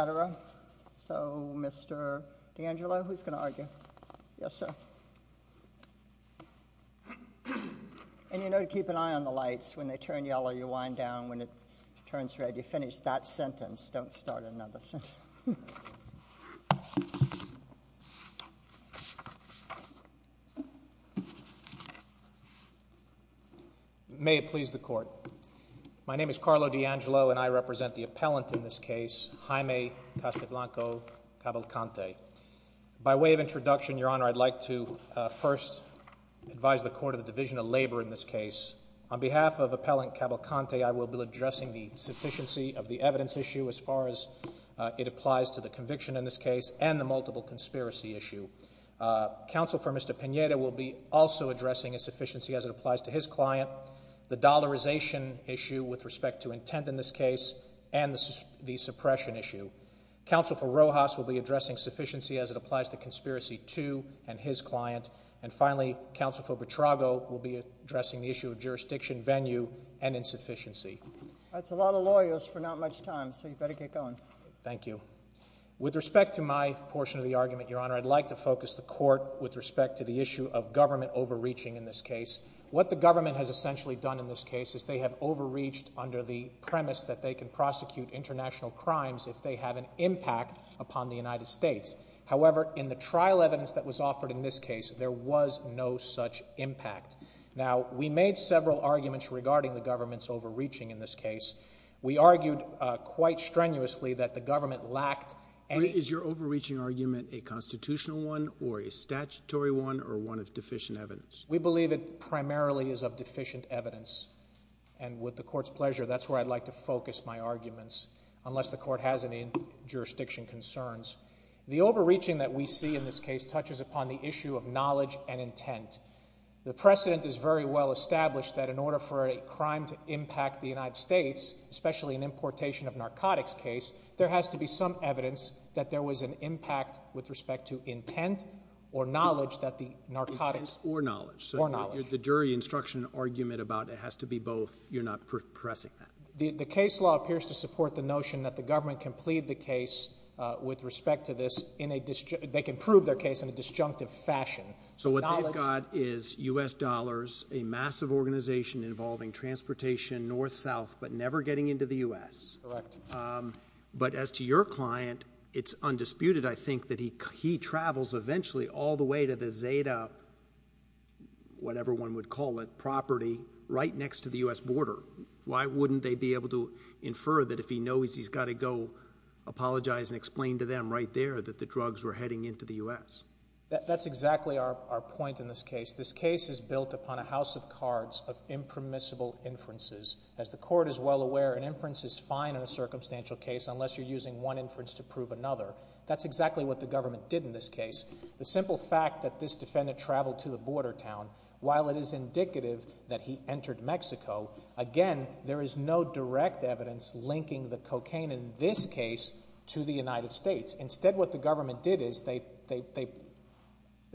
Attara. So, Mr. D'Angelo, who's going to argue? Yes, sir. And you know, to keep an eye on the lights, when they turn yellow, you wind down. When it turns red, you finish that sentence. Don't start another sentence. May it please the court. My name is Carlo D'Angelo and I will be addressing the sufficiency of the evidence issue as far as it applies to the conviction in this case and the multiple conspiracy issue. Counsel for Mr. Pineda will be also addressing a sufficiency as it applies to his client, the dollarization issue with respect to intent in this case and the suppression issue. Counsel for Rojas will be addressing sufficiency as it applies to conspiracy to and his client. And finally, counsel for Petrago will be addressing the issue of jurisdiction venue and insufficiency. That's a lot of lawyers for not much time, so you better get going. Thank you. With respect to my portion of the argument, Your Honor, I'd like to focus the court with respect to the issue of government overreaching in this case. What the government has essentially done in this case is they have overreached under the premise that they can prosecute international crimes if they have an impact upon the United States. However, in the trial evidence that was offered in this case, there was no such impact. Now, we made several arguments regarding the government's overreaching in this case. We argued quite strenuously that the government lacked any Is your overreaching argument a constitutional one or a statutory one or one of deficient evidence? And with the court's pleasure, that's where I'd like to focus my arguments unless the court has any jurisdiction concerns. The overreaching that we see in this case touches upon the issue of knowledge and intent. The precedent is very well established that in order for a crime to impact the United States, especially an importation of narcotics case, there has to be some evidence that there was an impact with respect to intent or knowledge that the narcotics or knowledge or knowledge, the jury instruction argument about it has to be both. You're not pressing that. The case law appears to support the notion that the government can plead the case with respect to this in a district. They can prove their case in a disjunctive fashion. So what I got is U. S. Dollars, a massive organization involving transportation north south but never getting into the U. S. Correct. But as to your client, it's undisputed, I think, that he travels eventually all the way to the Zeta, whatever one would call it, property right next to the U. S. border. Why wouldn't they be able to infer that if he knows he's got to go apologize and explain to them right there that the drugs were heading into the U. S.? That's exactly our point in this case. This case is built upon a house of cards of impermissible inferences. As the court is well aware, an inference is using one inference to prove another. That's exactly what the government did in this case. The simple fact that this defendant traveled to the border town, while it is indicative that he entered Mexico, again, there is no direct evidence linking the cocaine in this case to the United States. Instead, what the government did is they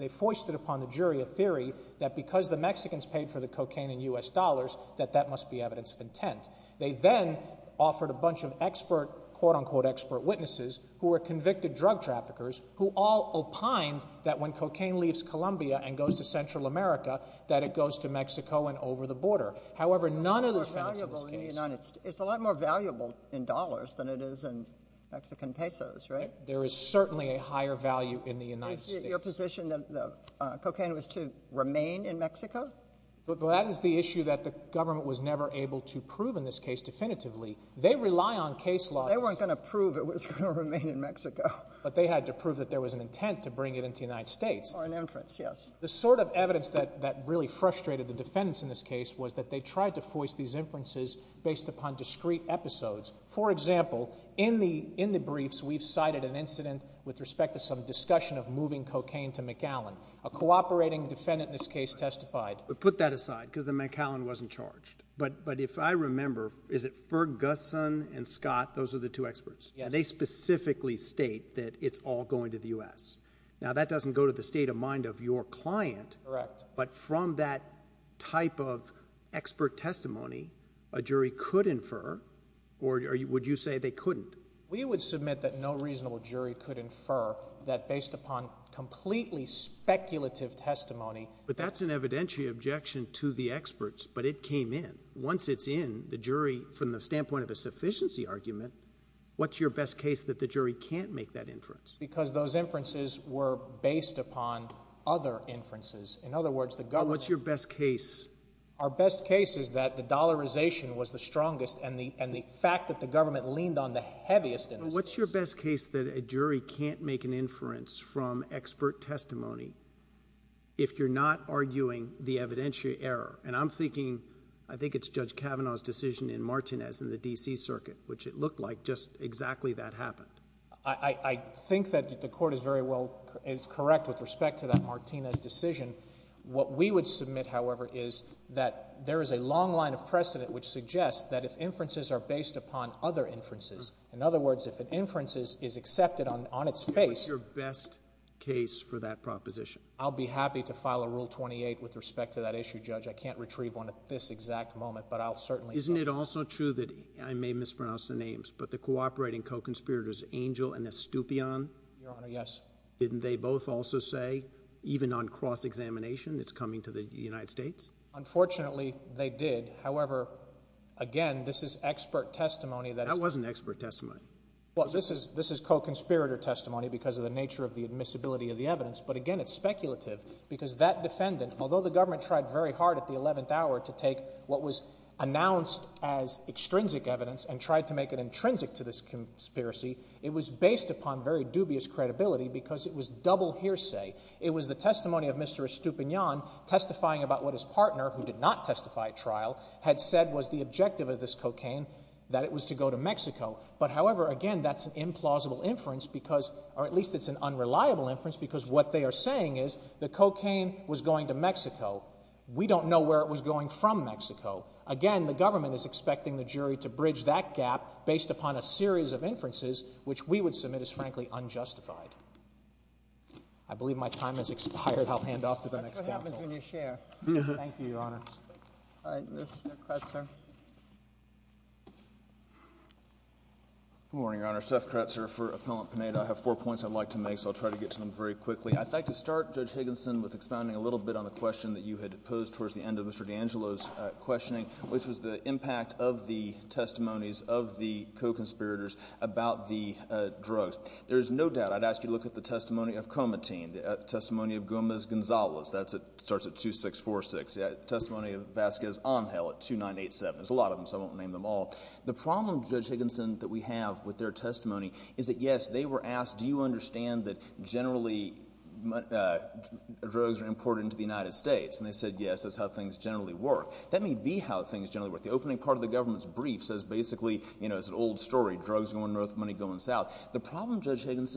foisted upon the jury a theory that because the Mexicans paid for the cocaine in U. S. Dollars, that that must be evidence of intent. They then offered a bunch of expert, quote-unquote, expert witnesses who were convicted drug traffickers, who all opined that when cocaine leaves Colombia and goes to Central America, that it goes to Mexico and over the border. However, none of the defendants in this case... It's a lot more valuable in dollars than it is in Mexican pesos, right? There is certainly a higher value in the United States. Is it your position that the cocaine was to remain in Mexico? Well, that is the issue that the government was never able to prove in this case definitively. They rely on case laws... They weren't going to prove it was going to remain in Mexico. But they had to prove that there was an intent to bring it into the United States. Or an inference, yes. The sort of evidence that really frustrated the defendants in this case was that they tried to foist these inferences based upon discrete episodes. For example, in the briefs, we've cited an incident with respect to some discussion of moving cocaine to McAllen. A cooperating defendant in this case testified. But put that aside, because the McAllen wasn't charged. But if I remember, is it Ferguson and Scott, those are the two experts? Yes. And they specifically state that it's all going to the U.S. Now, that doesn't go to the state of mind of your client. Correct. But from that type of expert testimony, a jury could infer, or would you say they couldn't? We would submit that no reasonable jury could infer that based upon completely speculative testimony. But that's an evidentiary objection to the experts. But it came in. Once it's in, the jury, from the standpoint of a sufficiency argument, what's your best case that the jury can't make that inference? Because those inferences were based upon other inferences. In other words, the government... What's your best case? Our best case is that the dollarization was the strongest, and the fact that the government leaned on the heaviest What's your best case that a jury can't make an inference from expert testimony if you're not arguing the evidentiary error? And I'm thinking, I think it's Judge Kavanaugh's decision in Martinez in the D.C. Circuit, which it looked like just exactly that happened. I think that the Court is very well, is correct with respect to that Martinez decision. What we would submit, however, is that there is a long line of precedent which suggests that if inferences are based upon other inferences, in other words, if an inference is accepted on its face... What's your best case for that proposition? I'll be happy to file a Rule 28 with respect to that issue, Judge. I can't retrieve one at this exact moment, but I'll certainly... Isn't it also true that, I may mispronounce the names, but the cooperating co-conspirators Angel and Estupion? Your Honor, yes. Didn't they both also say, even on cross-examination, it's coming to the United States? Unfortunately, they did. However, again, this is expert testimony that... That wasn't expert testimony. Well, this is co-conspirator testimony because of the nature of the admissibility of the evidence. But again, it's speculative because that defendant, although the government tried very hard at the eleventh hour to take what was announced as extrinsic evidence and tried to make it intrinsic to this conspiracy, it was based upon very dubious credibility because it was double hearsay. It was the testimony of Mr. Estuponian testifying about what his partner, who did not testify at trial, had said was the objective of this cocaine, that it was to go to Mexico. But however, again, that's an implausible inference because... Or at least it's an unreliable inference because what they are saying is the cocaine was going to Mexico. We don't know where it was going from Mexico. Again, the government is expecting the jury to bridge that gap based upon a series of inferences, which we would submit as, frankly, unjustified. I believe my time has expired. I should help hand off to the next counsel. That's what happens when you share. Thank you, Your Honor. All right. Mr. Kretzer. Good morning, Your Honor. Seth Kretzer for Appellant Panetta. I have four points I'd like to make, so I'll try to get to them very quickly. I'd like to start, Judge Higginson, with expounding a little bit on the question that you had posed towards the end of Mr. D'Angelo's questioning, which was the impact of the testimonies of the co-conspirators about the drugs. There is no doubt I'd ask you to look at the testimony of Comatine, the testimony of Gomez-Gonzalez. That starts at 2646. The testimony of Vazquez-Angel at 2987. There's a lot of them, so I won't name them all. The problem, Judge Higginson, that we have with their testimony is that, yes, they were asked, do you understand that generally drugs are imported into the United States? And they said, yes, that's how things generally work. That may be how things generally work. The opening part of the government's brief says basically, you know, it's an old story, drugs going north, money going south. The evidence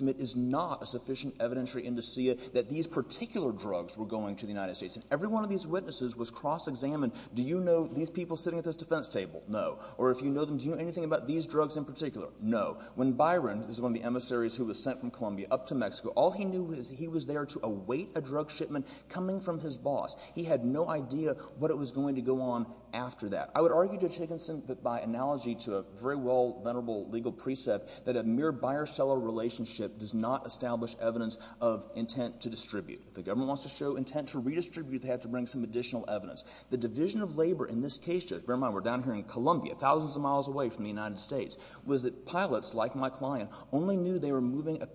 to me is not a sufficient evidentiary indicia that these particular drugs were going to the United States. And every one of these witnesses was cross-examined. Do you know these people sitting at this defense table? No. Or if you know them, do you know anything about these drugs in particular? No. When Byron, this is one of the emissaries who was sent from Colombia up to Mexico, all he knew was he was there to await a drug shipment coming from his boss. He had no idea what it was going to go on after that. I would argue, Judge Higginson, that by analogy to a very well venerable legal precept, that mere buyer-seller relationship does not establish evidence of intent to distribute. If the government wants to show intent to redistribute, they have to bring some additional evidence. The division of labor in this case, Judge, bear in mind we're down here in Colombia, thousands of miles away from the United States, was that pilots like my client only knew they were moving a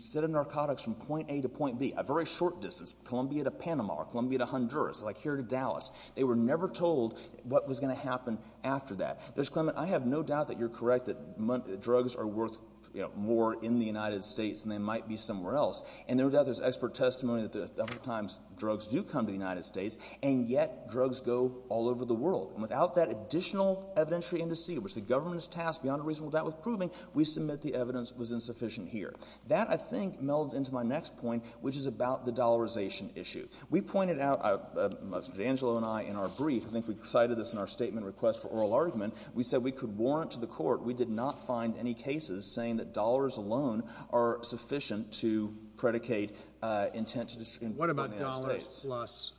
set of narcotics from point A to point B, a very short distance, Colombia to Panama or Colombia to Honduras, like here to Dallas. They were never told what was going to happen after that. Judge Clement, I have no doubt that you're correct that drugs are worth more in the United States than they might be somewhere else. And there's expert testimony that a number of times drugs do come to the United States, and yet drugs go all over the world. And without that additional evidentiary indice, which the government is tasked beyond a reasonable doubt with proving, we submit the evidence was insufficient here. That, I think, melds into my next point, which is about the dollarization issue. We pointed out, Judge Angelo and I, in our brief, I think we cited this in our statement request for the United States, saying that dollars alone are sufficient to predicate intent to distribute to the United States. What about dollars plus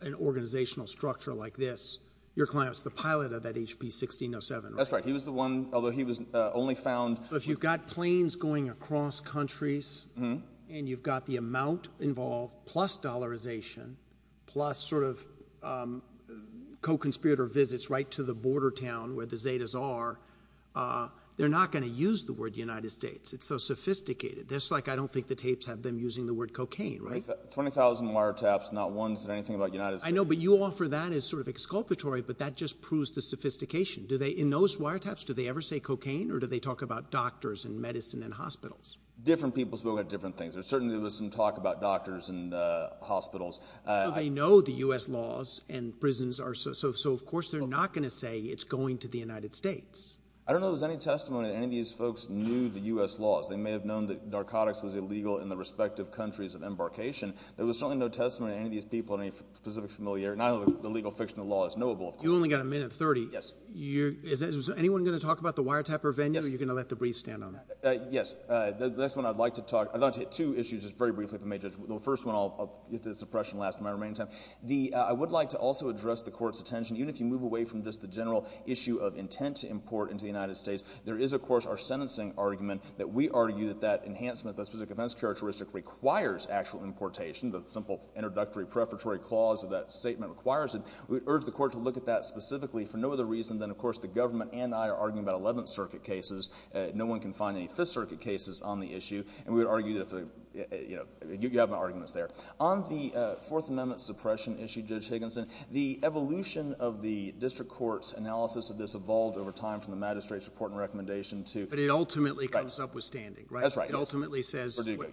an organizational structure like this? Your client's the pilot of that HP-1607, right? That's right. He was the one, although he was only found... But if you've got planes going across countries, and you've got the amount involved plus dollarization, plus sort of co-conspirator visits right to the border town where the Zetas are, they're not going to use the word United States. It's so sophisticated. That's like, I don't think the tapes have them using the word cocaine, right? 20,000 wiretaps, not one said anything about United States. I know, but you offer that as sort of exculpatory, but that just proves the sophistication. In those wiretaps, do they ever say cocaine, or do they talk about doctors and medicine and hospitals? Different people will say different things. There certainly was some talk about doctors and hospitals. They know the U.S. laws, and prisons are... Of course, they're not going to say it's going to the United States. I don't know if there's any testimony that any of these folks knew the U.S. laws. They may have known that narcotics was illegal in the respective countries of embarkation. There was certainly no testimony of any of these people in any specific familiar... Not only the legal fiction of the law is knowable, of course. You only got a minute, 30. Yes. Is anyone going to talk about the wiretapper venue, or are you going to let the briefs stand on that? Yes. The next one I'd like to talk... I'd like to hit two issues, just very briefly, if I may, Judge. The first one, I'll get to the suppression last in my remaining time. I would like to also address the Court's attention, even if you move away from just the general issue of intent to import into the United States. There is, of course, our sentencing argument that we argue that that enhancement, that specific offense characteristic requires actual importation. The simple introductory, prefatory clause of that statement requires it. We urge the Court to look at that specifically for no other reason than, of course, the government and I are arguing about 11th Circuit cases. No one can find any 5th Circuit cases on the On the Fourth Amendment suppression issue, Judge Higginson, the evolution of the District Court's analysis of this evolved over time from the Magistrate's report and recommendation to... But it ultimately comes up withstanding, right? That's right. It ultimately says... Verdugo,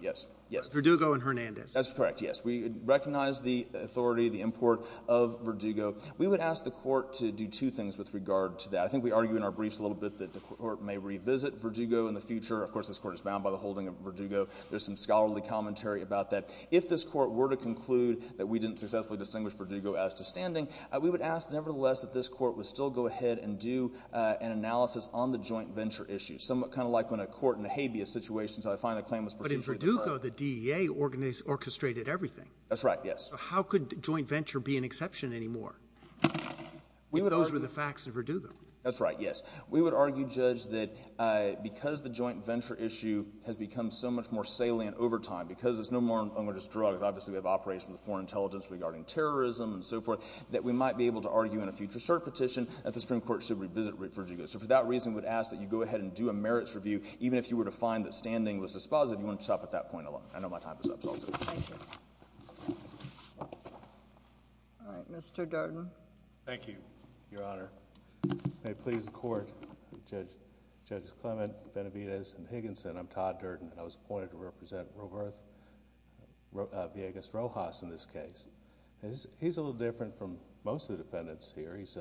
yes. Verdugo and Hernandez. That's correct, yes. We recognize the authority, the import of Verdugo. We would ask the Court to do two things with regard to that. I think we argue in our briefs a little bit that the Court may revisit Verdugo in the future. Of course, this Court is bound by the holding of Verdugo. There's some scholarly commentary about that. If this Court were to conclude that we didn't successfully distinguish Verdugo as tostanding, we would ask nevertheless that this Court would still go ahead and do an analysis on the joint venture issue, somewhat kind of like when a court in a habeas situation said, I find the claim was procedurally declared. But in Verdugo, the DEA orchestrated everything. That's right, yes. We would argue, Judge, that because the joint venture issue has become so much more salient over time, because it's no longer just drugs. Obviously, we have operations with foreign intelligence regarding terrorism and so forth, that we might be able to argue in a future cert petition that the Supreme Court should revisit Verdugo. So for that reason, we would ask that you go ahead and do a merits review, even if you were to find that standing was dispositive. You want to stop at that point alone. I know my time is up, so I'll do it. Thank you. All right. Mr. Darden. Thank you, Your Honor. May it please the Court, Judges Clement, Benavides, and Higginson, I'm Todd Darden, and I was appointed to represent Rojas in this case. He's a little different from most of the defendants here. He's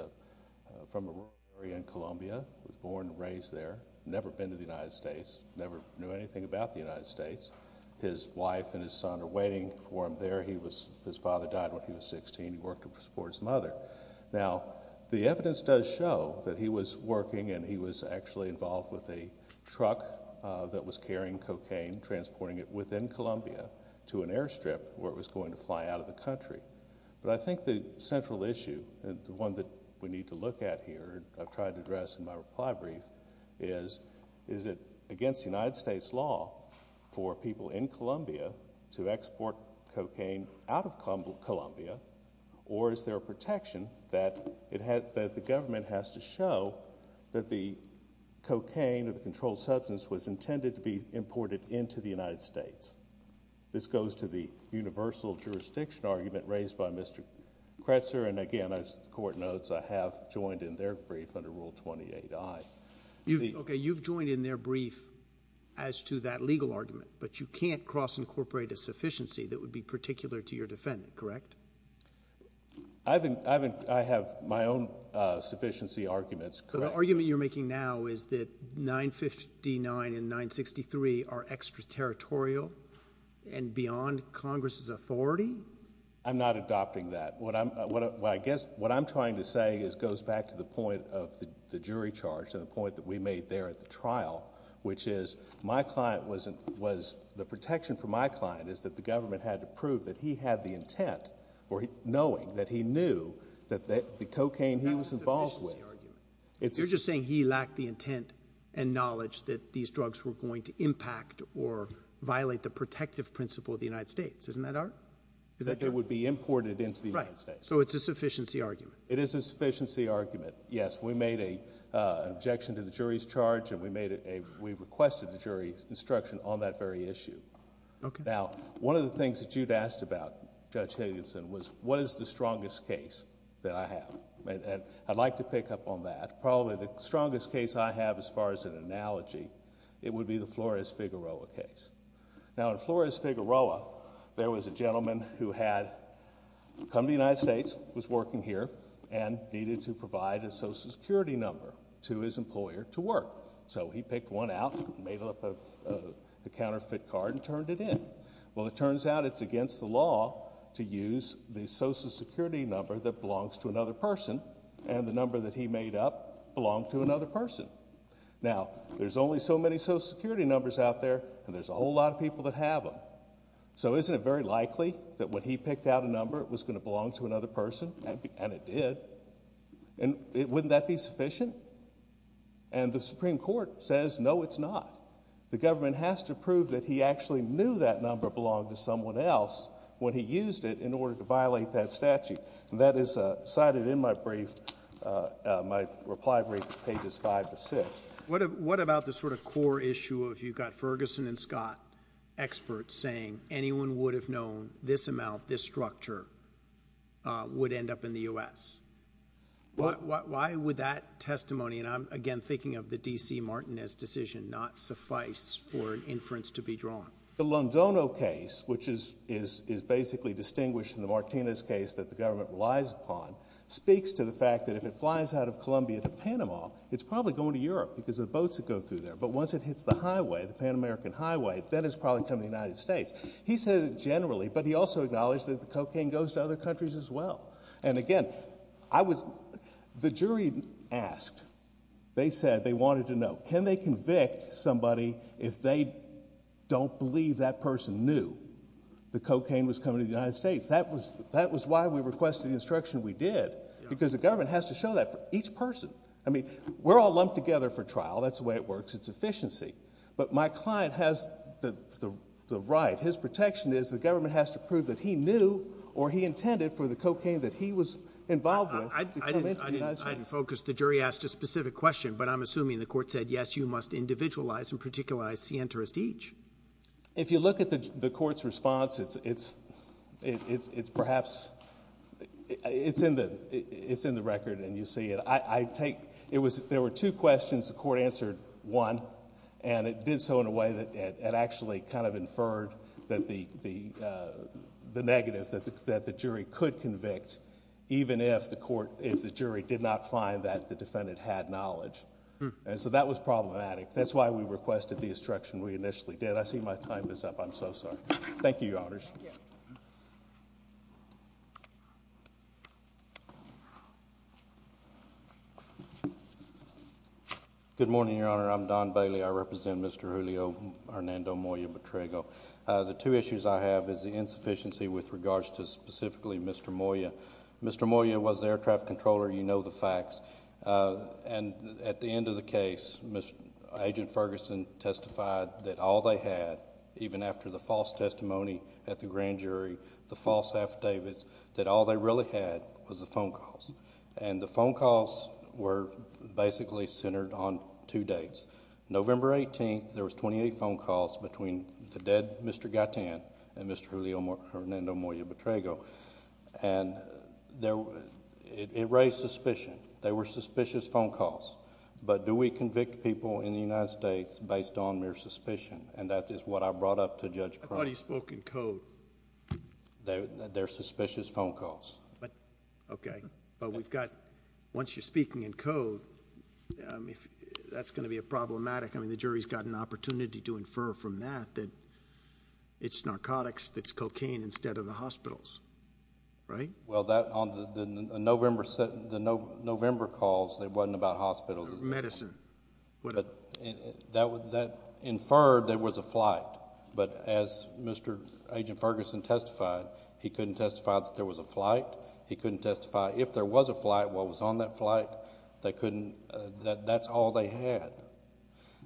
from a rural area in Colombia, was born and raised there, never been to the United States, never knew anything about the United States. His wife and his son are waiting for him there. His father died when he was sixteen. He worked to support his mother. Now, the evidence does show that he was working and he was actually involved with a truck that was carrying cocaine, transporting it within Colombia to an airstrip where it was going to fly out of the country. But I think the central issue, the one that we need to look at here, I've tried to address in my reply brief, is, is it against United States law for people in Colombia to export cocaine out of Colombia, or is there a protection that the government has to show that the cocaine or the controlled substance was intended to be imported into the United States? This goes to the universal jurisdiction argument raised by Mr. Kretzer, and again, as the Court notes, I have joined in their brief under Rule 28i. Okay, you've joined in their brief as to that legal argument, but you can't cross-incorporate a sufficiency that would be particular to your defendant, correct? I have my own sufficiency arguments, correct. So the argument you're making now is that 959 and 963 are extraterritorial and beyond Congress's authority? I'm not adopting that. What I'm, what I guess, what I'm trying to say is, goes back to the jury charge and the point that we made there at the trial, which is, my client wasn't, was, the protection for my client is that the government had to prove that he had the intent, or he, knowing that he knew that the cocaine he was involved with, it's a sufficiency argument. You're just saying he lacked the intent and knowledge that these drugs were going to impact or violate the protective principle of the United States, isn't that our, is that your? That it would be imported into the United States. Right, so it's a sufficiency argument. It is a sufficiency argument. Yes, we made a objection to the jury's charge and we made it a, we requested the jury's instruction on that very issue. Okay. Now, one of the things that you'd asked about, Judge Higginson, was what is the strongest case that I have? And I'd like to pick up on that. Probably the strongest case I have as far as an analogy, it would be the Flores-Figueroa case. Now in Flores-Figueroa, there was a man who was a social security worker and needed to provide a social security number to his employer to work. So he picked one out, made up a counterfeit card and turned it in. Well, it turns out it's against the law to use the social security number that belongs to another person and the number that he made up belonged to another person. Now, there's only so many social security numbers out there and there's a whole lot of people that have them. So isn't it very likely that when he picked out a number, it was going to belong to another person? And it did. And wouldn't that be sufficient? And the Supreme Court says, no, it's not. The government has to prove that he actually knew that number belonged to someone else when he used it in order to violate that statute. And that is cited in my brief, my reply brief at pages five to six. What about the sort of core issue of you've got Ferguson and Scott experts saying anyone would have known this amount, this structure would end up in the U.S.? Why would that testimony, and I'm again thinking of the D.C. Martinez decision, not suffice for an inference to be drawn? The Londono case, which is basically distinguished from the Martinez case that the government relies upon, speaks to the fact that if it flies out of Columbia to Panama, it's probably going to Europe because of the boats that go through there. But once it hits the highway, the Pan-American highway, then it's probably coming to the United States. He said it generally, but he also acknowledged that the cocaine goes to other countries as well. And again, the jury asked, they said they wanted to know, can they convict somebody if they don't believe that person knew the cocaine was coming to the United States? That was why we requested the instruction we did, because the government has to show that for each person. I mean, we're all lumped together for trial. That's the way it works. It's efficiency. But my client has the right. His protection is the government has to prove that he knew or he intended for the cocaine that he was involved with to come into the United States. The jury asked a specific question, but I'm assuming the court said, yes, you must individualize and particularize the interest each. If you look at the court's response, it's perhaps, it's in the record and you see it. I take, it was, there were two questions. The court answered one and it did so in a way that it actually kind of inferred that the negative, that the jury could convict even if the court, if the jury did not find that the defendant had knowledge. And so that was problematic. That's why we requested the instruction we initially did. I see my time is up. I'm so sorry. Thank you, Your Honors. Good morning, Your Honor. I'm Don Bailey. I represent Mr. Julio Hernando Moya-Betrigo. The two issues I have is the insufficiency with regards to specifically Mr. Moya. Mr. Moya was the air traffic controller. You know the facts. And at the end of the case, Agent Ferguson testified that all they had, even after the false testimony at the grand jury, the false affidavits, that all they really had was the phone calls. And the phone calls were basically centered on two dates. November 18th, there was 28 phone calls between the dead Mr. Gaitan and Mr. Julio Hernando Moya-Betrigo. And it raised suspicion. There were suspicious phone calls. But do we convict people in the United States based on mere suspicion? And that is what I brought up to Judge Cronin. I thought he spoke in code. They're suspicious phone calls. Okay. But we've got, once you're speaking in code, that's going to be a problematic. I mean, the jury's got an opportunity to infer from that that it's narcotics that's cocaine instead of the hospitals, right? Well, on the November calls, they weren't about hospitals. They were about medicine. But that inferred there was a flight. But as Mr. Agent Ferguson testified, he couldn't testify that there was a flight. He couldn't testify if there was a flight, what was on that flight. That's all they had.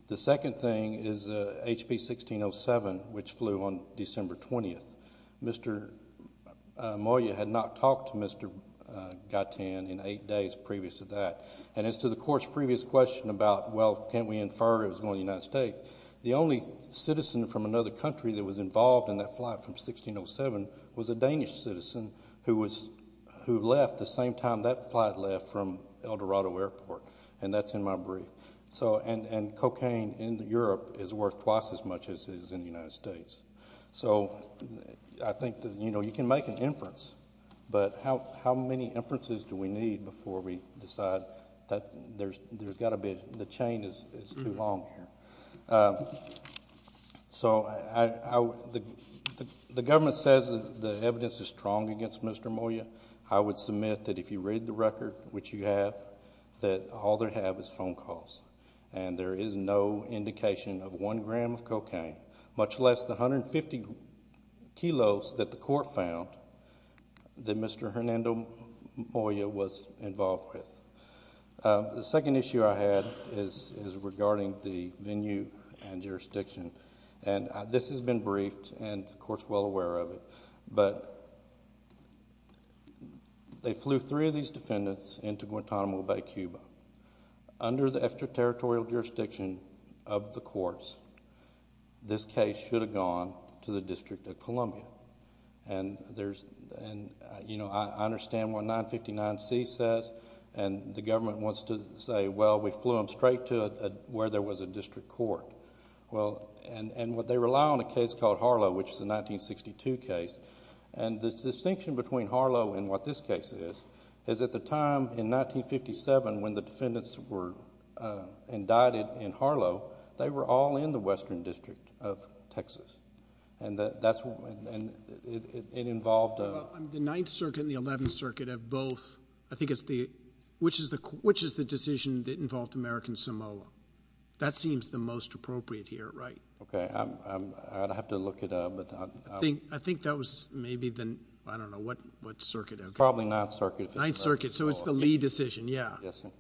The second thing is HP-1607, which flew on December 20th. Mr. Moya had not talked to Mr. Gaitan in eight days previous to that. And as to the court's previous question about, well, can't we infer it was going to the United States, the only citizen from another country that was involved in that flight from 1607 was a Danish citizen who left the same time that flight left from El Dorado Airport. And that's in my brief. And cocaine in Europe is worth twice as much as it is in the United States. So I think that you can make an inference. But how many inferences do we need before we decide that there's got to be, the chain is too long here. So the government says that the evidence is strong against Mr. Moya. I would submit that if you read the record, which you have, that all they have is phone calls. And there is no indication of one gram of cocaine, much less the 150 kilos that the court found that Mr. Hernando Moya was involved with. The second issue I had is regarding the venue and jurisdiction. And this has been briefed and the court is well aware of it. But they flew three of these defendants into Guantanamo Bay, Cuba. Under the extraterritorial jurisdiction of the courts, this case should have gone to the District of Columbia. And I understand what 959C says, but I don't think it's true. And the government wants to say, well, we flew them straight to where there was a district court. And they rely on a case called Harlow, which is a 1962 case. And the distinction between Harlow and what this case is, is at the time in 1957 when the defendants were indicted in Harlow, they were all in the western district of Texas. And it involved a... The Ninth Circuit and the Eleventh Circuit have both... I think it's the... Which is the decision that involved American Samoa? That seems the most appropriate here, right? Okay. I'd have to look it up. I think that was maybe the... I don't know what circuit. Probably Ninth Circuit. Ninth Circuit. So it's the Lee decision. Yeah.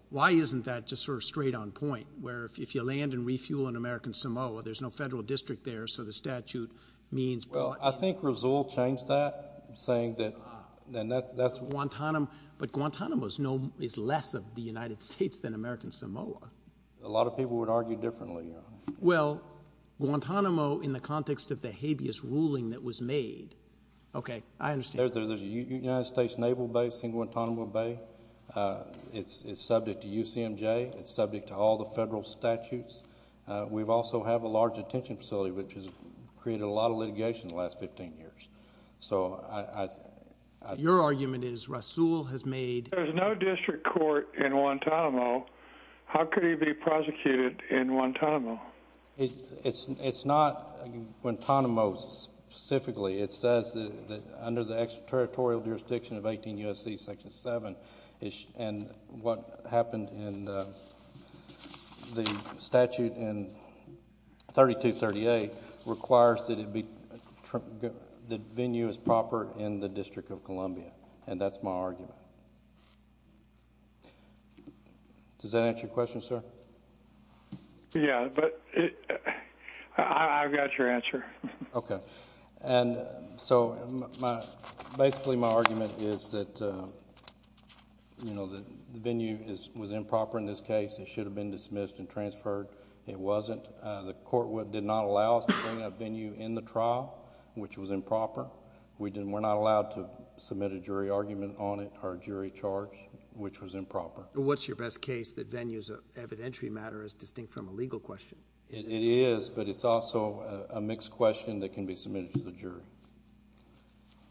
Why isn't that just sort of straight on point? Where if you land and refuel in American Samoa, there's no federal district there, so the statute means... Well, I think Rizul changed that, saying that... Guantanamo. But Guantanamo is less of the United States than American Samoa. A lot of people would argue differently, Your Honor. Well, Guantanamo in the context of the habeas ruling that was made... Okay. I understand. There's a United States Naval base in Guantanamo Bay. It's subject to UCMJ. It's subject to all the federal statutes. We also have a large detention facility, which has created a lot of litigation in the last 15 years. So I... Your argument is Rizul has made... There's no district court in Guantanamo. How could he be prosecuted in Guantanamo? It's not Guantanamo specifically. It says that under the extraterritorial jurisdiction of 18 U.S.C. Section 7, and what happened in the statute in 3238 requires that it be the venue is proper in the District of Columbia. And that's my argument. Does that answer your question, sir? Yeah, but I've got your answer. Okay. And so basically my argument is that the venue was improper in this case. It should have been dismissed and transferred. It wasn't. The court did not allow us to bring a venue in the trial, which was improper. We're not allowed to submit a jury argument on it or jury charge, which was improper. What's your best case that venue's evidentiary matter is distinct from a legal question? It is, but it's also a mixed question that can be submitted to the jury.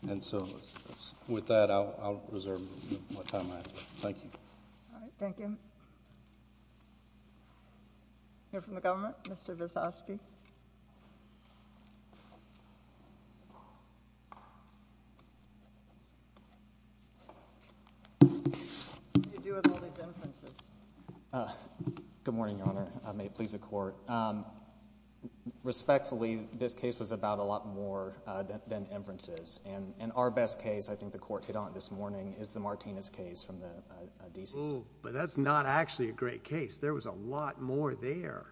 And so with that, I'll reserve what time I have. Thank you. All right. Thank you. Hear from the government? Mr. Visosky? What do you do with all these inferences? Good morning, Your Honor. May it please the Court. Respectfully, this case was about a lot more than inferences. And our best case, I think the Court hit on it this morning, is the Martinez case from the DCC. But that's not actually a great case. There was a lot more there.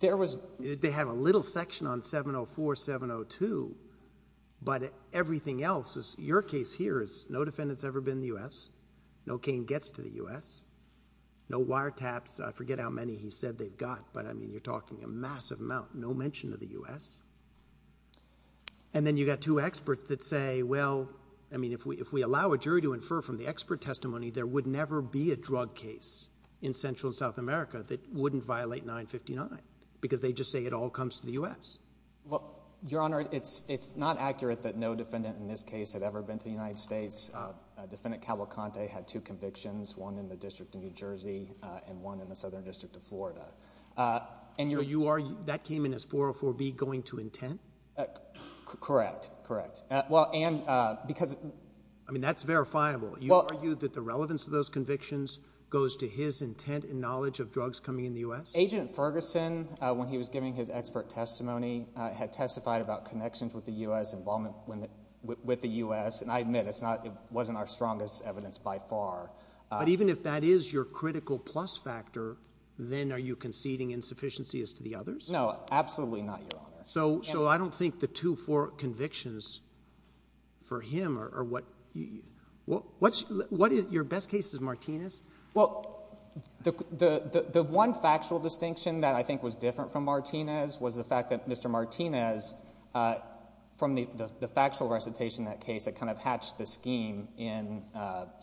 They have a little section on 704, 702, but everything else is... your case here is no defendant's ever been in the U.S. No cane gets to the U.S. No wiretaps. I forget how many he said they've got, but I mean, you're talking a massive amount. No mention of the U.S. And then you've got two experts that say, well, I mean, if we allow a jury to infer from the expert testimony, there would never be a drug case in Central and South America that wouldn't violate 959, because they just say it all comes to the U.S. Well, Your Honor, it's not accurate that no defendant in this case had ever been to the United States. Defendant Cavalcante had two convictions, one in the District of New Jersey and one in the Southern District of Well, and because... I mean, that's verifiable. You argued that the relevance of those convictions goes to his intent and knowledge of drugs coming in the U.S.? Agent Ferguson, when he was giving his expert testimony, had testified about connections with the U.S., involvement with the U.S., and I admit it's not... it wasn't our strongest evidence by far. But even if that is your critical plus factor, then are you conceding insufficiency as to the others? No, absolutely not, Your Honor. So I don't think the two, four convictions for him are what... your best case is Martinez? Well, the one factual distinction that I think was different from Martinez was the fact that Mr. Martinez, from the factual recitation of that case, it kind of hatched the scheme in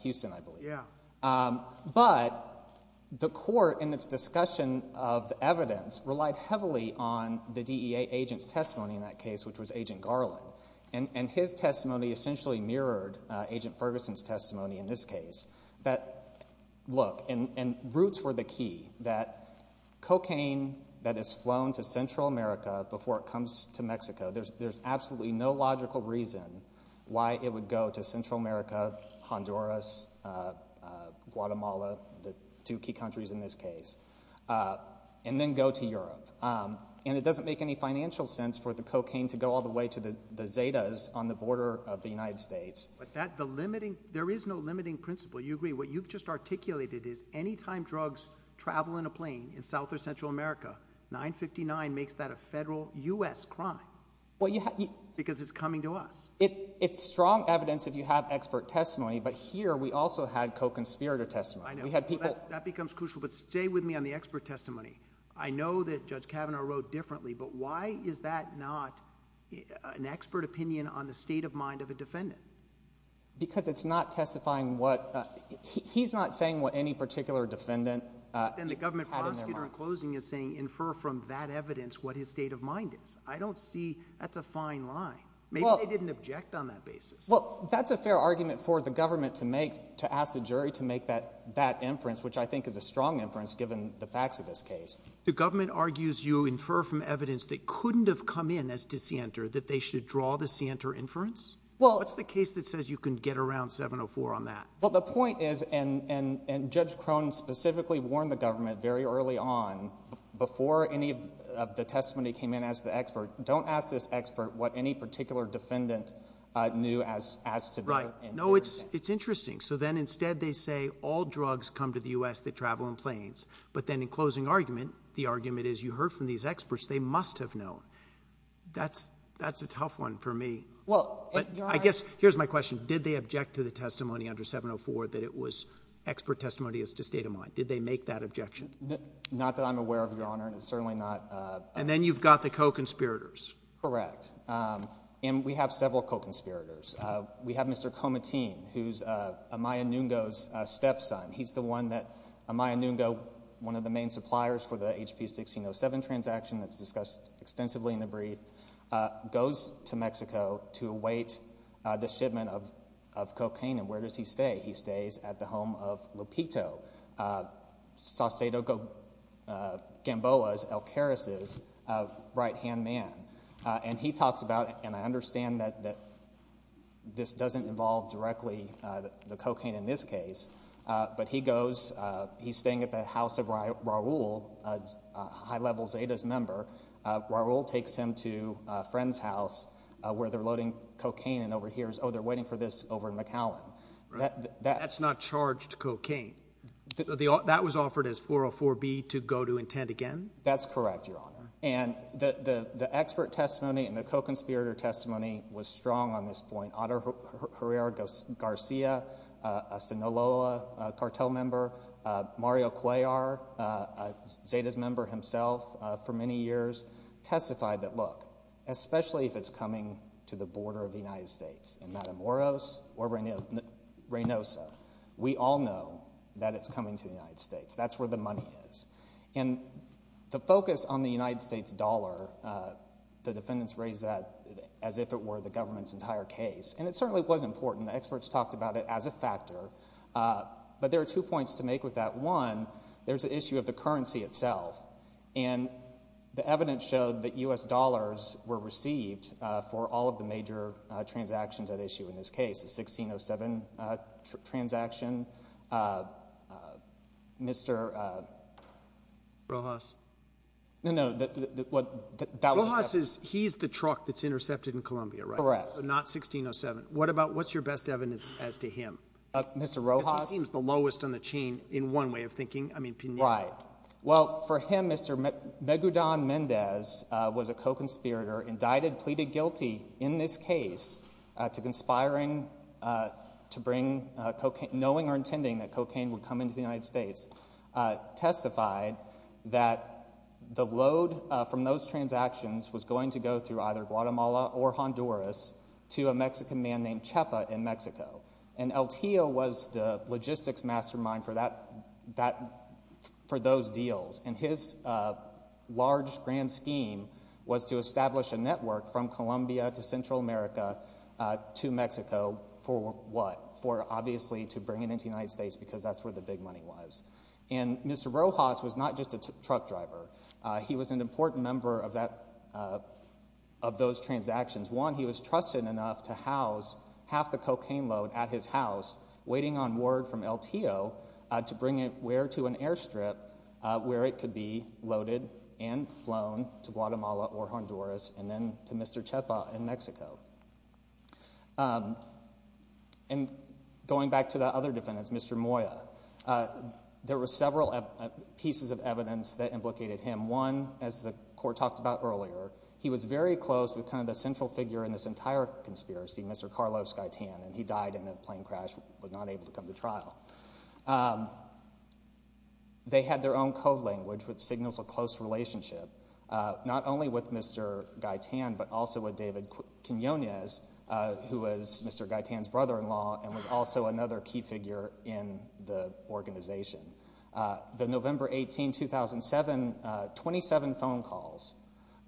Houston, I believe. Yeah. But the court in its discussion of the evidence relied heavily on the DEA agent's testimony in that case, which was Agent Garland. And his testimony essentially mirrored Agent Ferguson's testimony in this case. That, look, and roots were the key, that cocaine that is flown to Central America before it comes to Mexico, there's absolutely no logical reason why it would go to Central America, Honduras, Guatemala, the two key countries in this case, and then go to Europe. And it doesn't make any financial sense for the cocaine to go all the way to the Zetas on the border of the United States. But that, the limiting... there is no limiting principle, you agree? What you've just articulated is anytime drugs travel in a plane in South or Central America, 959 makes that a federal U.S. crime because it's coming to us. It's strong evidence if you have expert testimony, but here we also had co-conspirator testimony. I know. We had people... That becomes crucial, but stay with me on the expert testimony. I know that Judge Kavanaugh wrote differently, but why is that not an expert opinion on the state of mind of a defendant? Because it's not testifying what... he's not saying what any particular defendant had in their mind. Then the government prosecutor in closing is saying infer from that evidence what his state of mind is. I don't see... that's a fine line. Maybe they didn't object on that basis. Well, that's a fair argument for the government to make... to ask the jury to make that inference, which I think is a strong inference given the facts of this case. The government argues you infer from evidence that couldn't have come in as DeSanter that they should draw the DeSanter inference? Well... What's the case that says you can get around 704 on that? Well, the point is... and Judge Crone specifically warned the government very early on before any of the testimony came in as the expert, don't ask this expert what any particular defendant knew as to... Right. No, it's interesting. So then instead they say all drugs come to the U.S. that travel in planes. But then in closing argument, the argument is you heard from these experts, they must have known. That's a tough one for me. Well, Your Honor... I guess here's my question. Did they object to the testimony under 704 that it was expert testimony as to state of mind? Did they make that objection? Not that I'm aware of, Your Honor, and it's got the co-conspirators. Correct. And we have several co-conspirators. We have Mr. Comatine, who's Amaya Nungo's stepson. He's the one that... Amaya Nungo, one of the main suppliers for the HP-1607 transaction that's discussed extensively in the brief, goes to Mexico to await the shipment of cocaine. And where does he stay? He stays at the home of Lopito, Saucedo Gamboa's, Alcaraz's right-hand man. And he talks about... and I understand that this doesn't involve directly the cocaine in this case, but he goes... he's staying at the house of Raul, a high-level Zetas member. Raul takes him to a friend's house where they're loading cocaine and overhears, oh, they're waiting for this over in McAllen. That's not charged cocaine. So the... that was offered as 404B to go to intent again? That's correct, Your Honor. And the expert testimony and the co-conspirator testimony was strong on this point. Otter Herrera-Garcia, a Sinaloa cartel member, Mario Cuellar, a Zetas member himself for many years, testified that, look, especially if it's coming to the border of the United States, that's where the money is. And the focus on the United States dollar, the defendants raised that as if it were the government's entire case. And it certainly was important. The experts talked about it as a factor. But there are two points to make with that. One, there's the issue of the currency itself. And the evidence showed that U.S. dollars were received for all of the major transactions at issue in this case, the 1607 transaction. Mr.... Rojas? No, no, that was... Rojas is, he's the truck that's intercepted in Columbia, right? Correct. So not 1607. What about, what's your best evidence as to him? Mr. Rojas? Because he seems the lowest on the chain in one way of thinking. I mean, for him, Mr. Megudan Mendez was a co-conspirator, indicted, pleaded guilty in this case to conspiring to bring cocaine, knowing or intending that cocaine would come into the United States, testified that the load from those transactions was going to go through either Guatemala or Honduras to a Mexican man named Chepa in Mexico. And El Tio was the logistics mastermind for those deals. And his large, grand scheme was to establish a network from Columbia to Central America to Mexico for what? For, obviously, to bring it into the United States because that's where the big money was. And Mr. Rojas was not just a truck driver. He was an important member of that, of those transactions. One, he was trusted enough to house half the cocaine load at his house, waiting on word from El Tio to bring it where? To an airstrip where it could be loaded and flown to Guatemala or Honduras and then to Mr. Chepa in Mexico. And going back to the other defendants, Mr. Moya, there were several pieces of evidence that implicated him. One, as the court talked about earlier, he was very close with kind of Carlos Gaitan and he died in a plane crash, was not able to come to trial. They had their own code language which signals a close relationship, not only with Mr. Gaitan but also with David Quinonez, who was Mr. Gaitan's brother-in-law and was also another key figure in the organization. The November 18, 2007, 27 phone calls,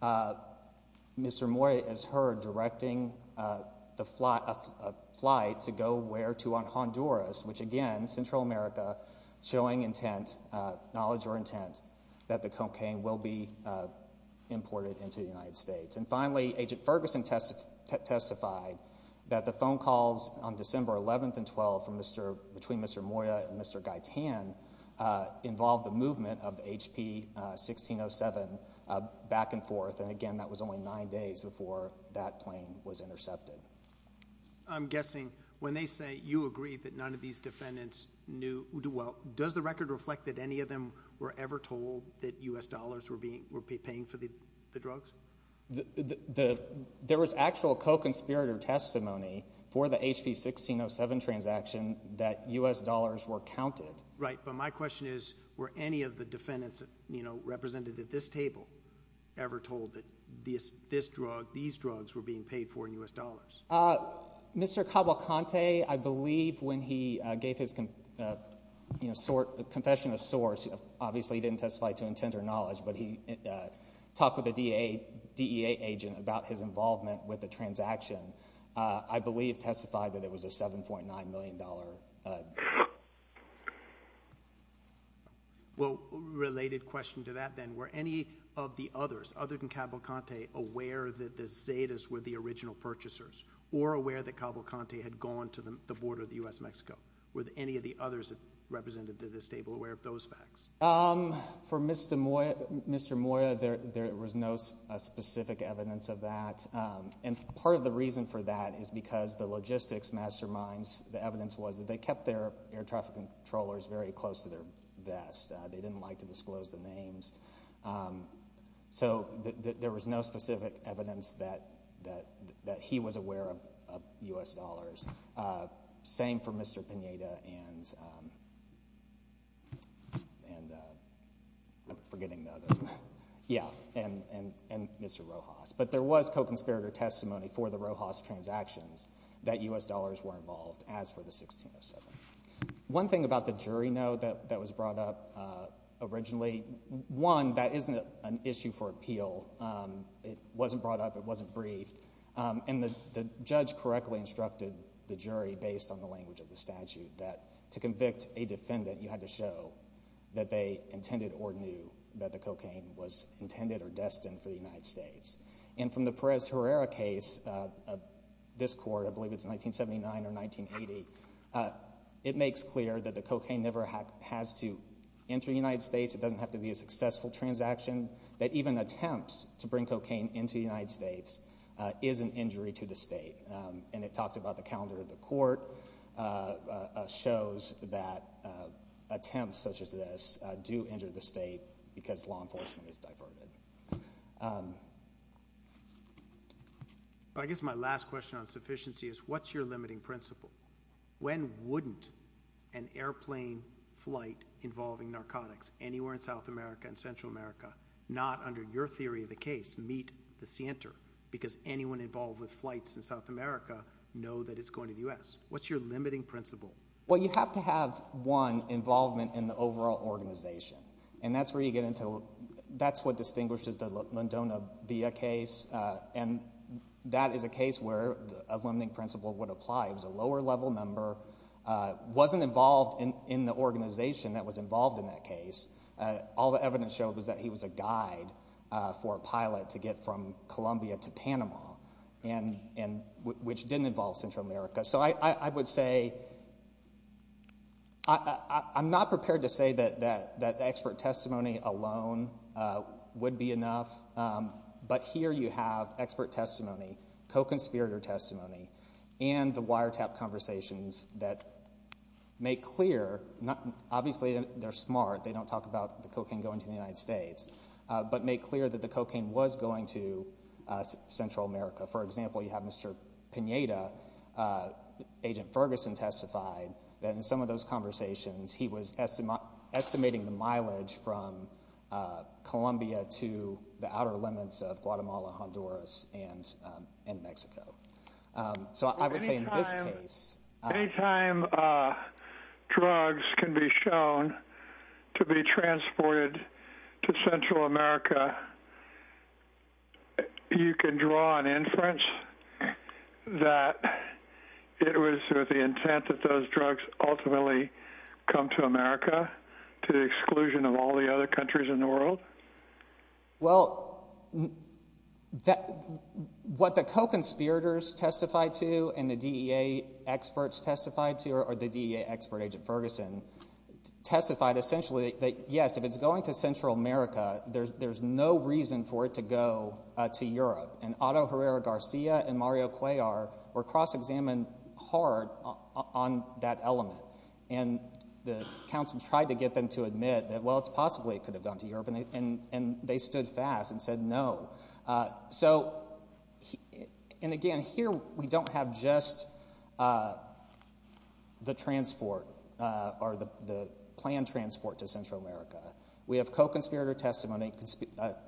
Mr. Moya is heard directing a flight to go where to on Honduras, which again, Central America, showing intent, knowledge or intent that the cocaine will be imported into the United States. And finally, Agent Ferguson testified that the phone calls on December 11 and 12 from Mr., between Mr. Moya and Mr. Gaitan involved the movement of HP 1607 back and forth. And again, that was only nine days before that plane was intercepted. I'm guessing when they say you agree that none of these defendants knew, well, does the record reflect that any of them were ever told that U.S. dollars were being paid for the drugs? There was actual co-conspirator testimony for the HP 1607 transaction that U.S. dollars were counted. Right, but my question is, were any of the defendants, you know, represented at this table ever told that this drug, these drugs were being paid for in U.S. dollars? Mr. Cabalcante, I believe when he gave his, you know, confession of knowledge, but he talked with the DEA agent about his involvement with the transaction, I believe testified that it was a $7.9 million deal. Well, related question to that then, were any of the others, other than Cabalcante, aware that the Zetas were the original purchasers? Or aware that Cabalcante had gone to the border of the U.S. Mexico? Were any of the others represented at this table aware of those facts? For Mr. Moya, there was no specific evidence of that. And part of the reason for that is because the logistics masterminds, the evidence was that they kept their air traffic controllers very close to their vest. They didn't like to disclose the names. So, there was no specific evidence that he was aware of U.S. dollars. Same for Mr. Pineda and Mr. Rojas. But there was co-conspirator testimony for the Rojas transactions that U.S. dollars were involved as for the 1607. One thing about the jury note that was brought up originally, one, that isn't an issue for appeal. It wasn't brought up. It wasn't briefed. And the judge correctly instructed the jury, based on the language of the statute, that to convict a defendant, you had to show that they intended or knew that the cocaine was intended or destined for the United States. And from the Perez-Herrera case of this court, I believe it's 1979 or 1980, it makes clear that the cocaine never has to enter the United States. It doesn't have to be a successful transaction. That even attempts to bring cocaine into the United States is an injury to the state. And it talked about the calendar of the court, shows that attempts such as this do injure the state because law enforcement is diverted. I guess my last question on sufficiency is, what's your limiting principle? When wouldn't an airplane flight involving narcotics anywhere in South America and Central America, not under your theory of the case, meet the Center? Because anyone involved with flights in South America know that it's going to the U.S. What's your limiting principle? Well, you have to have, one, involvement in the overall organization. And that's where you get into, that's what distinguishes the Londona BIA case. And that is a case where a limiting principle would apply. It was a lower level member, wasn't involved in the organization that was involved in that case. All the evidence showed was that he was a guide for a pilot to get from Columbia to Panama, which didn't involve Central America. So I would say, I'm not prepared to say that expert testimony alone would be enough. But here you have expert testimony, co-conspirator testimony, and the wiretap conversations that make clear, obviously they're smart, they don't talk about the cocaine going to the United States, but make clear that the cocaine was going to Central America. For example, you have Mr. Pineda, Agent Ferguson testified that in some of those conversations, he was estimating the mileage from Columbia to the outer limits of Guatemala, Honduras, and Mexico. So I would say in this case... Any time drugs can be shown to be transported to Central America, you can draw an inference that it was with the intent that those drugs ultimately come to America, to the exclusion of all the other countries in the world? Well, what the co-conspirators testified to, and the DEA experts testified to, or the DEA expert, Agent Ferguson, testified essentially that, yes, if it's going to Central America, there's no reason for it to go to Europe. And Otto Herrera-Garcia and Mario Cuellar were cross-examined hard on that element. And the counsel tried to get them to admit that, well, it's possibly it could have gone to Europe, and they stood fast and said no. So, and again, here we don't have just the transport, or the planned transport to Central America. We have co-conspirator testimony,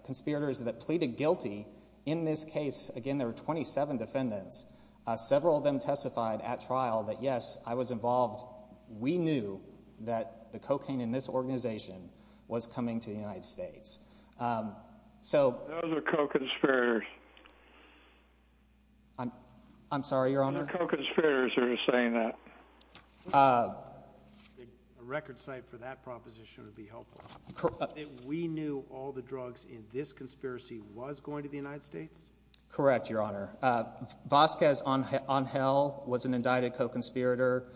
conspirators that pleaded guilty. In this case, again, there were 27 defendants. Several of them testified at trial that, yes, I was coming to the United States. So. Those are co-conspirators. I'm, I'm sorry, Your Honor. Those are co-conspirators who are saying that. A record site for that proposition would be helpful. We knew all the drugs in this conspiracy was going to the United States? Correct, Your Honor. Vasquez Angel was an indicted co-conspirator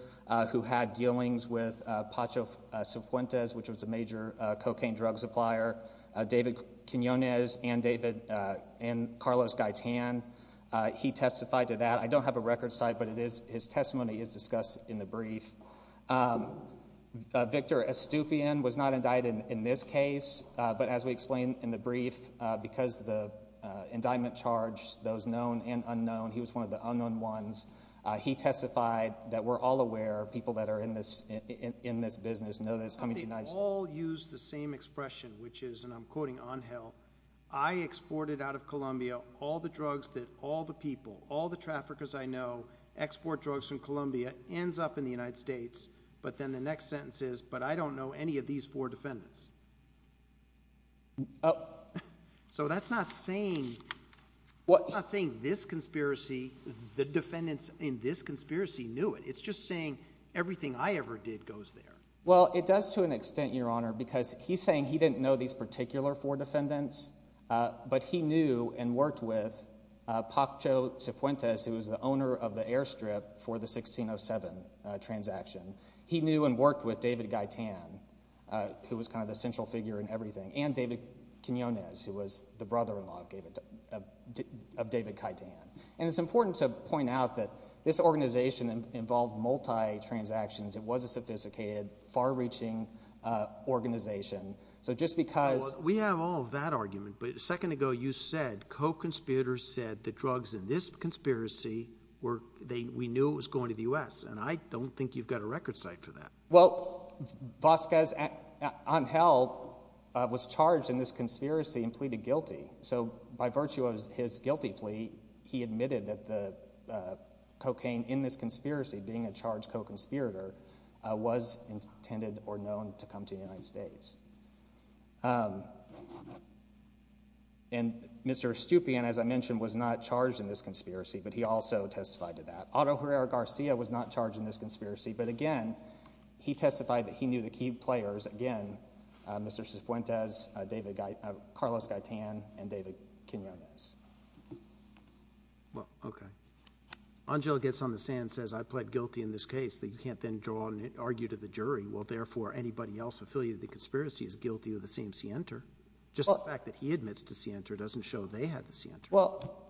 who had dealings with Pacho Cifuentes, which was a major cocaine drug supplier. David Quinonez and David, and Carlos Gaitan, he testified to that. I don't have a record site, but it is, his testimony is discussed in the brief. Victor Estupian was not indicted in this case, but as we explained in the brief, because the indictment charged those known and unknown, he was one of the unknown ones, he testified that we're all aware, people that are in this, in this business know that he's coming to the United States. But they all use the same expression, which is, and I'm quoting Angel, I exported out of Colombia all the drugs that all the people, all the traffickers I know export drugs from Colombia, ends up in the United States, but then the next sentence is, but I don't know any of these four defendants. Oh. So that's not saying, what's not saying this conspiracy, the defendants in this conspiracy knew it. It's just saying everything I ever did goes there. Well, it does to an extent, Your Honor, because he's saying he didn't know these particular four defendants, but he knew and worked with Paccho Cifuentes, who was the owner of the Airstrip for the 1607 transaction. He knew and worked with David Gaitan, who was kind of the central figure in everything, and David Quinonez, who was the brother-in-law of David Gaitan. And it's important to point out that this was a sophisticated, far-reaching organization. So just because... Well, we have all that argument, but a second ago you said, co-conspirators said the drugs in this conspiracy were, they, we knew it was going to the U.S., and I don't think you've got a record site for that. Well, Vasquez, Angel, was charged in this conspiracy and pleaded guilty. So by virtue of his guilty plea, he admitted that the cocaine in this conspiracy, being a charged co-conspirator, was intended or known to come to the United States. And Mr. Estupian, as I mentioned, was not charged in this conspiracy, but he also testified to that. Otto Herrera-Garcia was not charged in this conspiracy, but again, he testified that he knew the key players, again, Mr. Cifuentes, David Gaitan, Carlos Gaitan, and David Quinonez. Well, okay. Angel gets on the stand and says, I pled guilty in this case, that you can't then draw on and argue to the jury. Well, therefore, anybody else affiliated with the conspiracy is guilty of the same scienter. Just the fact that he admits to scienter doesn't show they had the scienter. Well,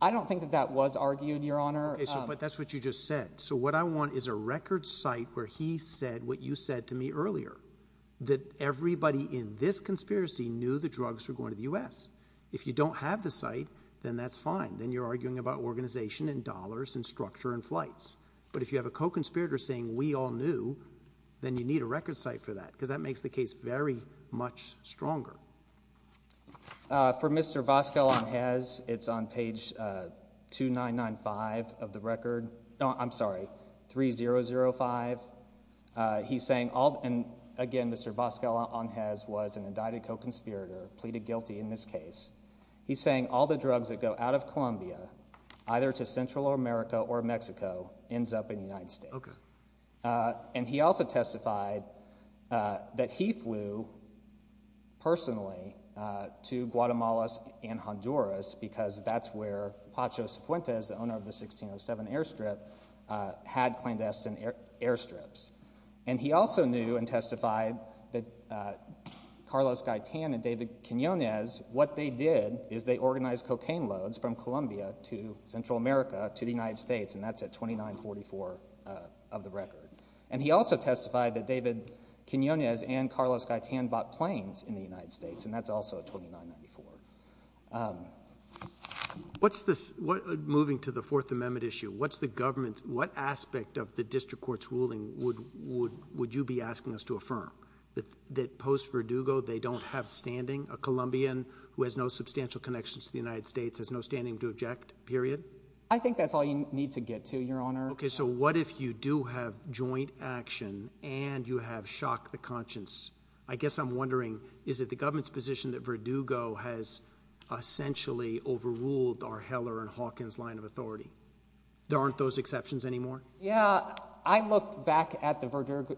I don't think that that was argued, Your Honor. Okay, so, but that's what you just said. So what I want is a record site where he said what you said to me earlier, that everybody in this conspiracy knew the drugs were going to the U.S. If you don't have the site, then that's fine. Then you're arguing about organization and dollars and structure and flights. But if you have a co-conspirator saying we all knew, then you need a record site for that, because that makes the case very much stronger. For Mr. Vazquez, it's on page 2995 of the record. No, I'm sorry, 3005. He's saying all, and again, Mr. Vazquez was an indicted co-conspirator, pleaded guilty in this case. He's saying all the drugs that go out of Colombia, either to Central America or Mexico, ends up in the United States. Okay. And he also testified that he flew personally to Guatemala and Honduras, because that's where Pachos Fuentes, the owner of the 1607 airstrip, had clandestine airstrips. And he also knew and testified that Carlos Gaitan and David Quinonez, what they did is they organized cocaine loads from Colombia to Central America to the United States, and that's at 2944 of the record. And he also testified that David Quinonez and Carlos Gaitan bought planes in the United States, and that's also at 2994. What's this, moving to the Fourth Amendment issue, what's the government, what aspect of the District Court's ruling would you be asking us to affirm? That post-Verdugo they don't have standing? A Colombian who has no substantial connections to the United States has no standing to object, period? I think that's all you need to get to, Your Honor. Okay, so what if you do have joint action and you have shock the conscience? I guess I'm wondering, is it the government's position that Verdugo has essentially overruled our Heller and Hawkins line of authority? There aren't those exceptions anymore? Yeah, I looked back at the Verdugo,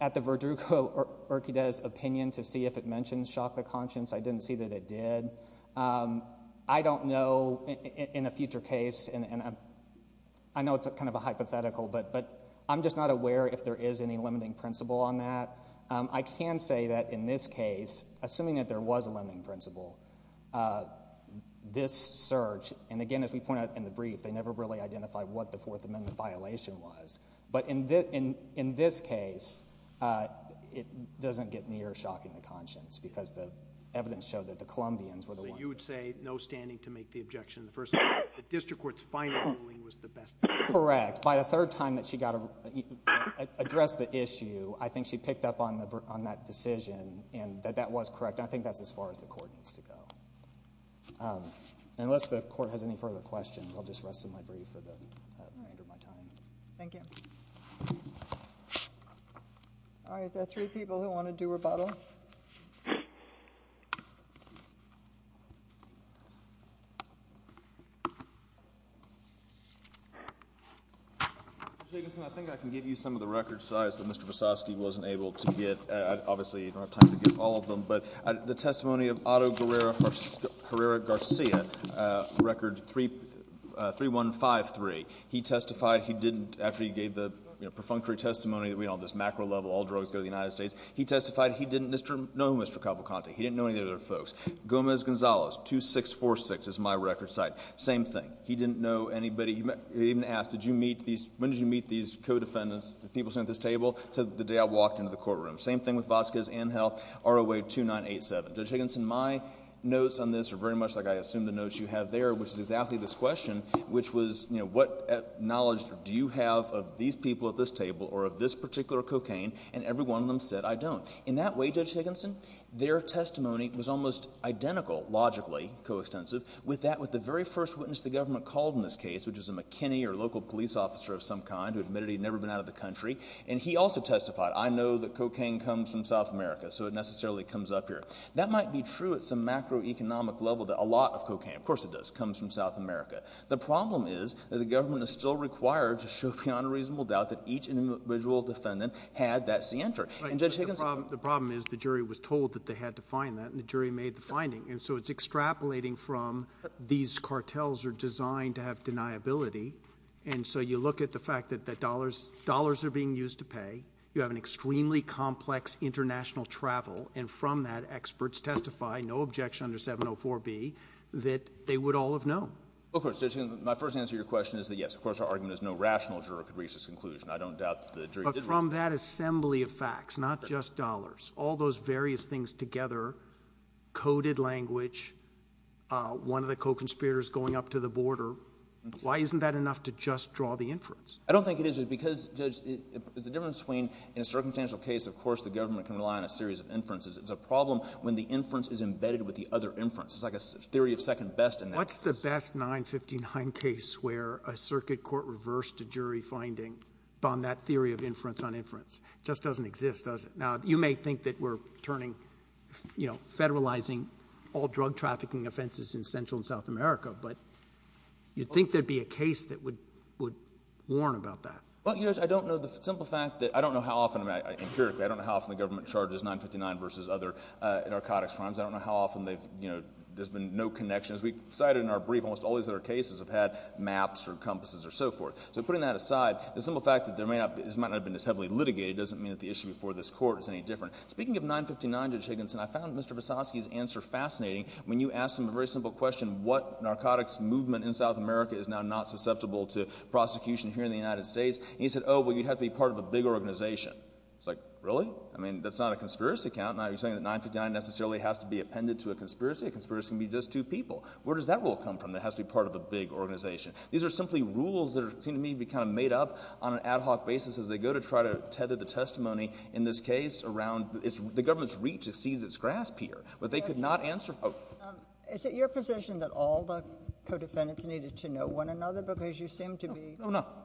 at the Verdugo-Urquidez opinion to see if it mentioned shock the conscience. I didn't see that it did. I don't know, in a future case, and I know it's kind of a hypothetical, but I'm just not aware if there is any limiting principle on that. I can say that in this case, assuming that there was a limiting principle, this search, and again, as we pointed out in the brief, they never really identified what the Fourth Amendment violation was. But in this case, it doesn't get near shocking the conscience because the evidence showed that the Columbians were the ones that... So you would say, no standing to make the objection. The District Court's final ruling was the best... Correct. By the third time that she addressed the issue, I think she picked up on that decision and that that was correct. I think that's as far as the Court needs to go. Unless the Court has any further questions, I'll just rest my brief for the remainder of my time. Thank you. All right. There are three people who want to do rebuttal. Mr. Jacobson, I think I can give you some of the record size that Mr. Vasosky wasn't able to get. Obviously, you don't have time to get all of them, but the testimony of Otto after he gave the perfunctory testimony, this macro level, all drugs go to the United States, he testified he didn't know Mr. Cavalcante. He didn't know any of the other folks. Gomez Gonzalez, 2646 is my record size. Same thing. He didn't know anybody. He even asked, when did you meet these co-defendants, the people sitting at this table? He said, the day I walked into the courtroom. Same thing with Vasquez and Hill, ROA 2987. Judge Higginson, my notes on this are very much like I assume the notes you have there, which is exactly this question, which was, you know, what knowledge do you have of these people at this table or of this particular cocaine? And every one of them said, I don't. In that way, Judge Higginson, their testimony was almost identical, logically, coextensive, with that with the very first witness the government called in this case, which was a McKinney or local police officer of some kind who admitted he'd never been out of the country. And he also testified, I know that cocaine comes from South America, so it necessarily comes up here. That might be true at some macroeconomic level that a lot of cocaine, of course it does, comes from South America. The problem is that the government is still required to show beyond a reasonable doubt that each individual defendant had that cianter. And Judge Higginson— The problem is the jury was told that they had to find that, and the jury made the finding. And so it's extrapolating from these cartels are designed to have deniability, and so you look at the fact that dollars are being used to pay, you have an extremely complex international travel, and from that, experts testify, no objection under 704B, that they would all have known. Of course, Judge Higginson, my first answer to your question is that yes, of course our argument is no rational juror could reach this conclusion. I don't doubt that the jury did reach it. But from that assembly of facts, not just dollars, all those various things together, coded language, one of the co-conspirators going up to the border, why isn't that enough to just draw the inference? I don't think it is, because, Judge, there's a difference between, in a circumstantial case, of course the government can rely on a series of inferences. It's a problem when the inference is embedded with the other inference. It's like a theory of second best analysis. What's the best 959 case where a circuit court reversed a jury finding on that theory of inference on inference? It just doesn't exist, does it? Now, you may think that we're turning, you know, federalizing all drug trafficking offenses in Central and South America, but you'd think there'd be a case that would warn about that. Well, you know, Judge, I don't know the simple fact that—I don't know how often—empirically, I don't know how often the government charges 959 versus other narcotics crimes. I don't know how often they've, you know, there's been no connections. We cited in our brief almost all these other cases have had maps or compasses or so forth. So putting that aside, the simple fact that this might not have been as heavily litigated doesn't mean that the issue before this Court is any different. Speaking of 959, Judge Higginson, I found Mr. Vysotsky's answer fascinating. When you asked him a very simple question, what narcotics movement in South America is now not susceptible to prosecution here in the United States, and he said, oh, well, you'd have to be part of a big organization. I was like, really? I mean, that's not a conspiracy account. Now, are you saying that 959 necessarily has to be appended to a conspiracy? A conspiracy can be just two people. Where does that rule come from that has to be part of a big organization? These are simply rules that seem to me to be kind of made up on an ad hoc basis as they go to try to tether the testimony in this case around—the government's reach exceeds its grasp here, but they could not answer— Is it your position that all the co-defendants needed to know one another because you said you seemed to be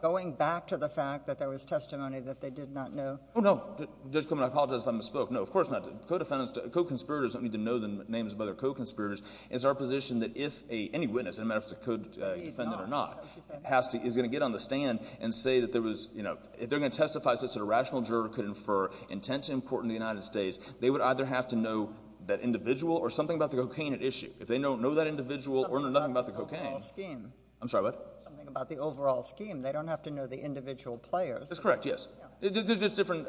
going back to the fact that there was testimony that they did not know? Oh, no. Judge Coleman, I apologize if I misspoke. No, of course not. Co-conspirators don't need to know the names of other co-conspirators. It's our position that if any witness, no matter if it's a co-defendant or not, has to—is going to get on the stand and say that there was—if they're going to testify such that a rational juror could infer intent to import into the United States, they would either have to know that individual or something about the cocaine at issue. If they don't know that individual or know nothing about the cocaine— Something about the overall scheme. I'm sorry, what? Something about the overall scheme. They don't have to know the individual players. That's correct, yes. There's just different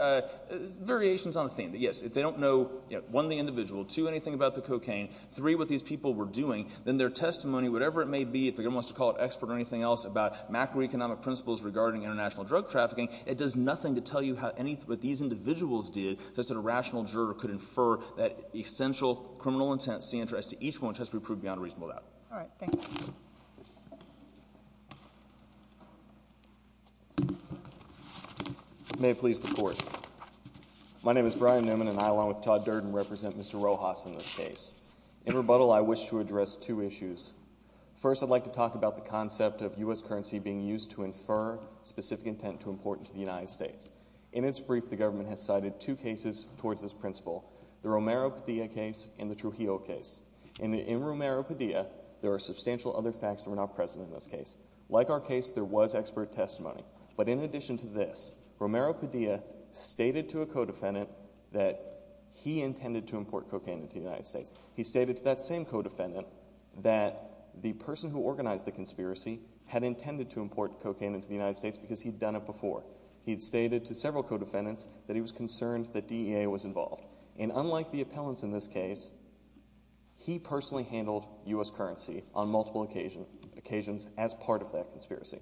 variations on the theme. Yes, if they don't know, one, the individual, two, anything about the cocaine, three, what these people were doing, then their testimony, whatever it may be, if the government wants to call it expert or anything else about macroeconomic principles regarding international drug trafficking, it does nothing to tell you how any—what these individuals did such that a rational juror could infer that essential criminal intents see interest to each one which has to be proved beyond a reasonable doubt. All right. Thank you. May it please the Court. My name is Brian Newman and I, along with Todd Durden, represent Mr. Rojas in this case. In rebuttal, I wish to address two issues. First, I'd like to talk about the concept of U.S. currency being used to infer specific intent to import into the United States. In its brief, the government has cited two cases towards this principle, the Romero-Padilla case and the Trujillo case. In Romero-Padilla, there are substantial other facts that were not present in this case. Like our case, there was expert testimony. But in addition to this, Romero-Padilla stated to a co-defendant that he intended to import cocaine into the United States. He stated to that same co-defendant that the person who organized the conspiracy had intended to import cocaine into the United States because he'd done it before. He'd stated to several co-defendants that he was concerned that DEA was involved. And unlike the appellants in this case, he personally handled U.S. currency on multiple occasions as part of that conspiracy.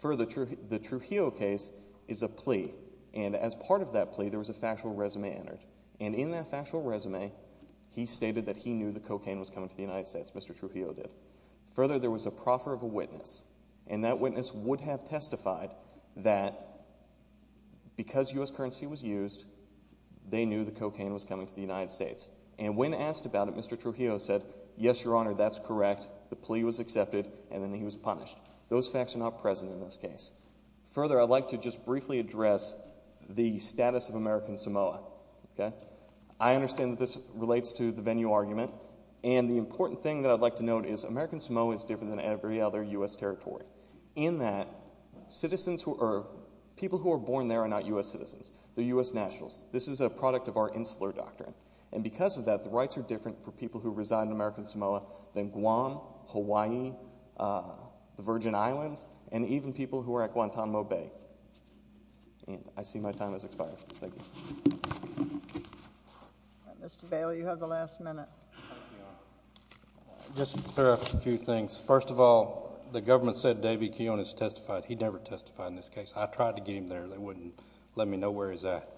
Further, the Trujillo case is a plea. And as part of that plea, there was a factual resume entered. And in that factual resume, he stated that he knew the cocaine was coming to the United States, Mr. Trujillo did. Further, there was a proffer of a witness. And that witness would have testified that because U.S. currency was used, they knew the cocaine was coming to the United States. And when asked about it, Mr. Trujillo said, yes, your honor, that's correct. The plea was accepted. And then he was punished. Those facts are not present in this case. Further, I'd like to just briefly address the status of American Samoa. I understand that this relates to the venue argument. And the important thing that I'd like to note is American Samoa is different than every other U.S. territory. In that, people who are born there are not U.S. citizens. They're U.S. nationals. This is a product of our insular doctrine. And because of that, the rights are different for people who reside in American Samoa than Guam, Hawaii, the Virgin Islands, and even people who are at Guantanamo Bay. And I see my time has expired. Thank you. Mr. Bale, you have the last minute. Thank you, your honor. Just to clarify a few things. First of all, the government said David Kiyonis testified. He never testified in this case. I tried to get him there. They wouldn't let me know where he's at.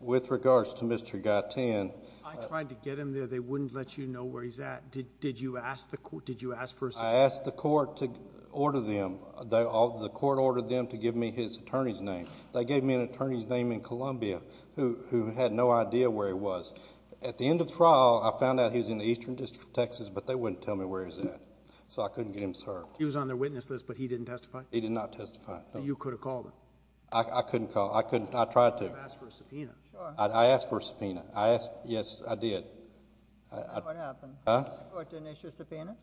With regards to Mr. Gaitan. I tried to get him there. They wouldn't let you know where he's at. Did you ask the court? Did you ask for a statement? I asked the court to order them. The court ordered them to give me his attorney's name. They gave me an attorney's name in Columbia who had no idea where he was. At the end of the trial, I found out he was in the Eastern District of Texas, but they wouldn't tell me where he was at. So I couldn't get him served. He was on their witness list, but he didn't testify? He did not testify. So you could have called him? I couldn't call. I tried to. You could have asked for a subpoena. I asked for a subpoena. Yes, I did. What happened? The court didn't issue a subpoena?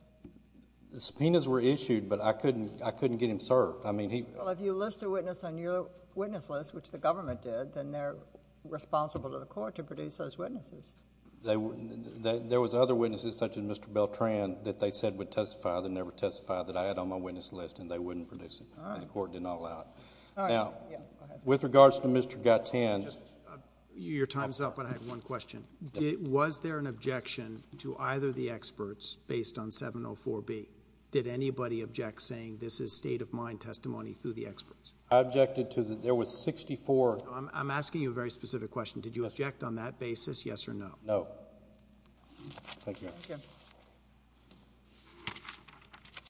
The subpoenas were issued, but I couldn't get him served. Well, if you list a witness on your witness list, which the government did, then they're responsible to the court to produce those witnesses. There was other witnesses, such as Mr. Beltran, that they said would testify, that never testified, that I had on my witness list and they wouldn't produce it. The court did not allow it. All right. Now, with regards to Mr. Gattan... Your time's up, but I have one question. Was there an objection to either the experts based on 704B? Did anybody object saying this is state-of-mind testimony through I objected to... there was sixty-four... I'm asking you a very specific question. Did you object on that basis, yes or no? No. Thank you.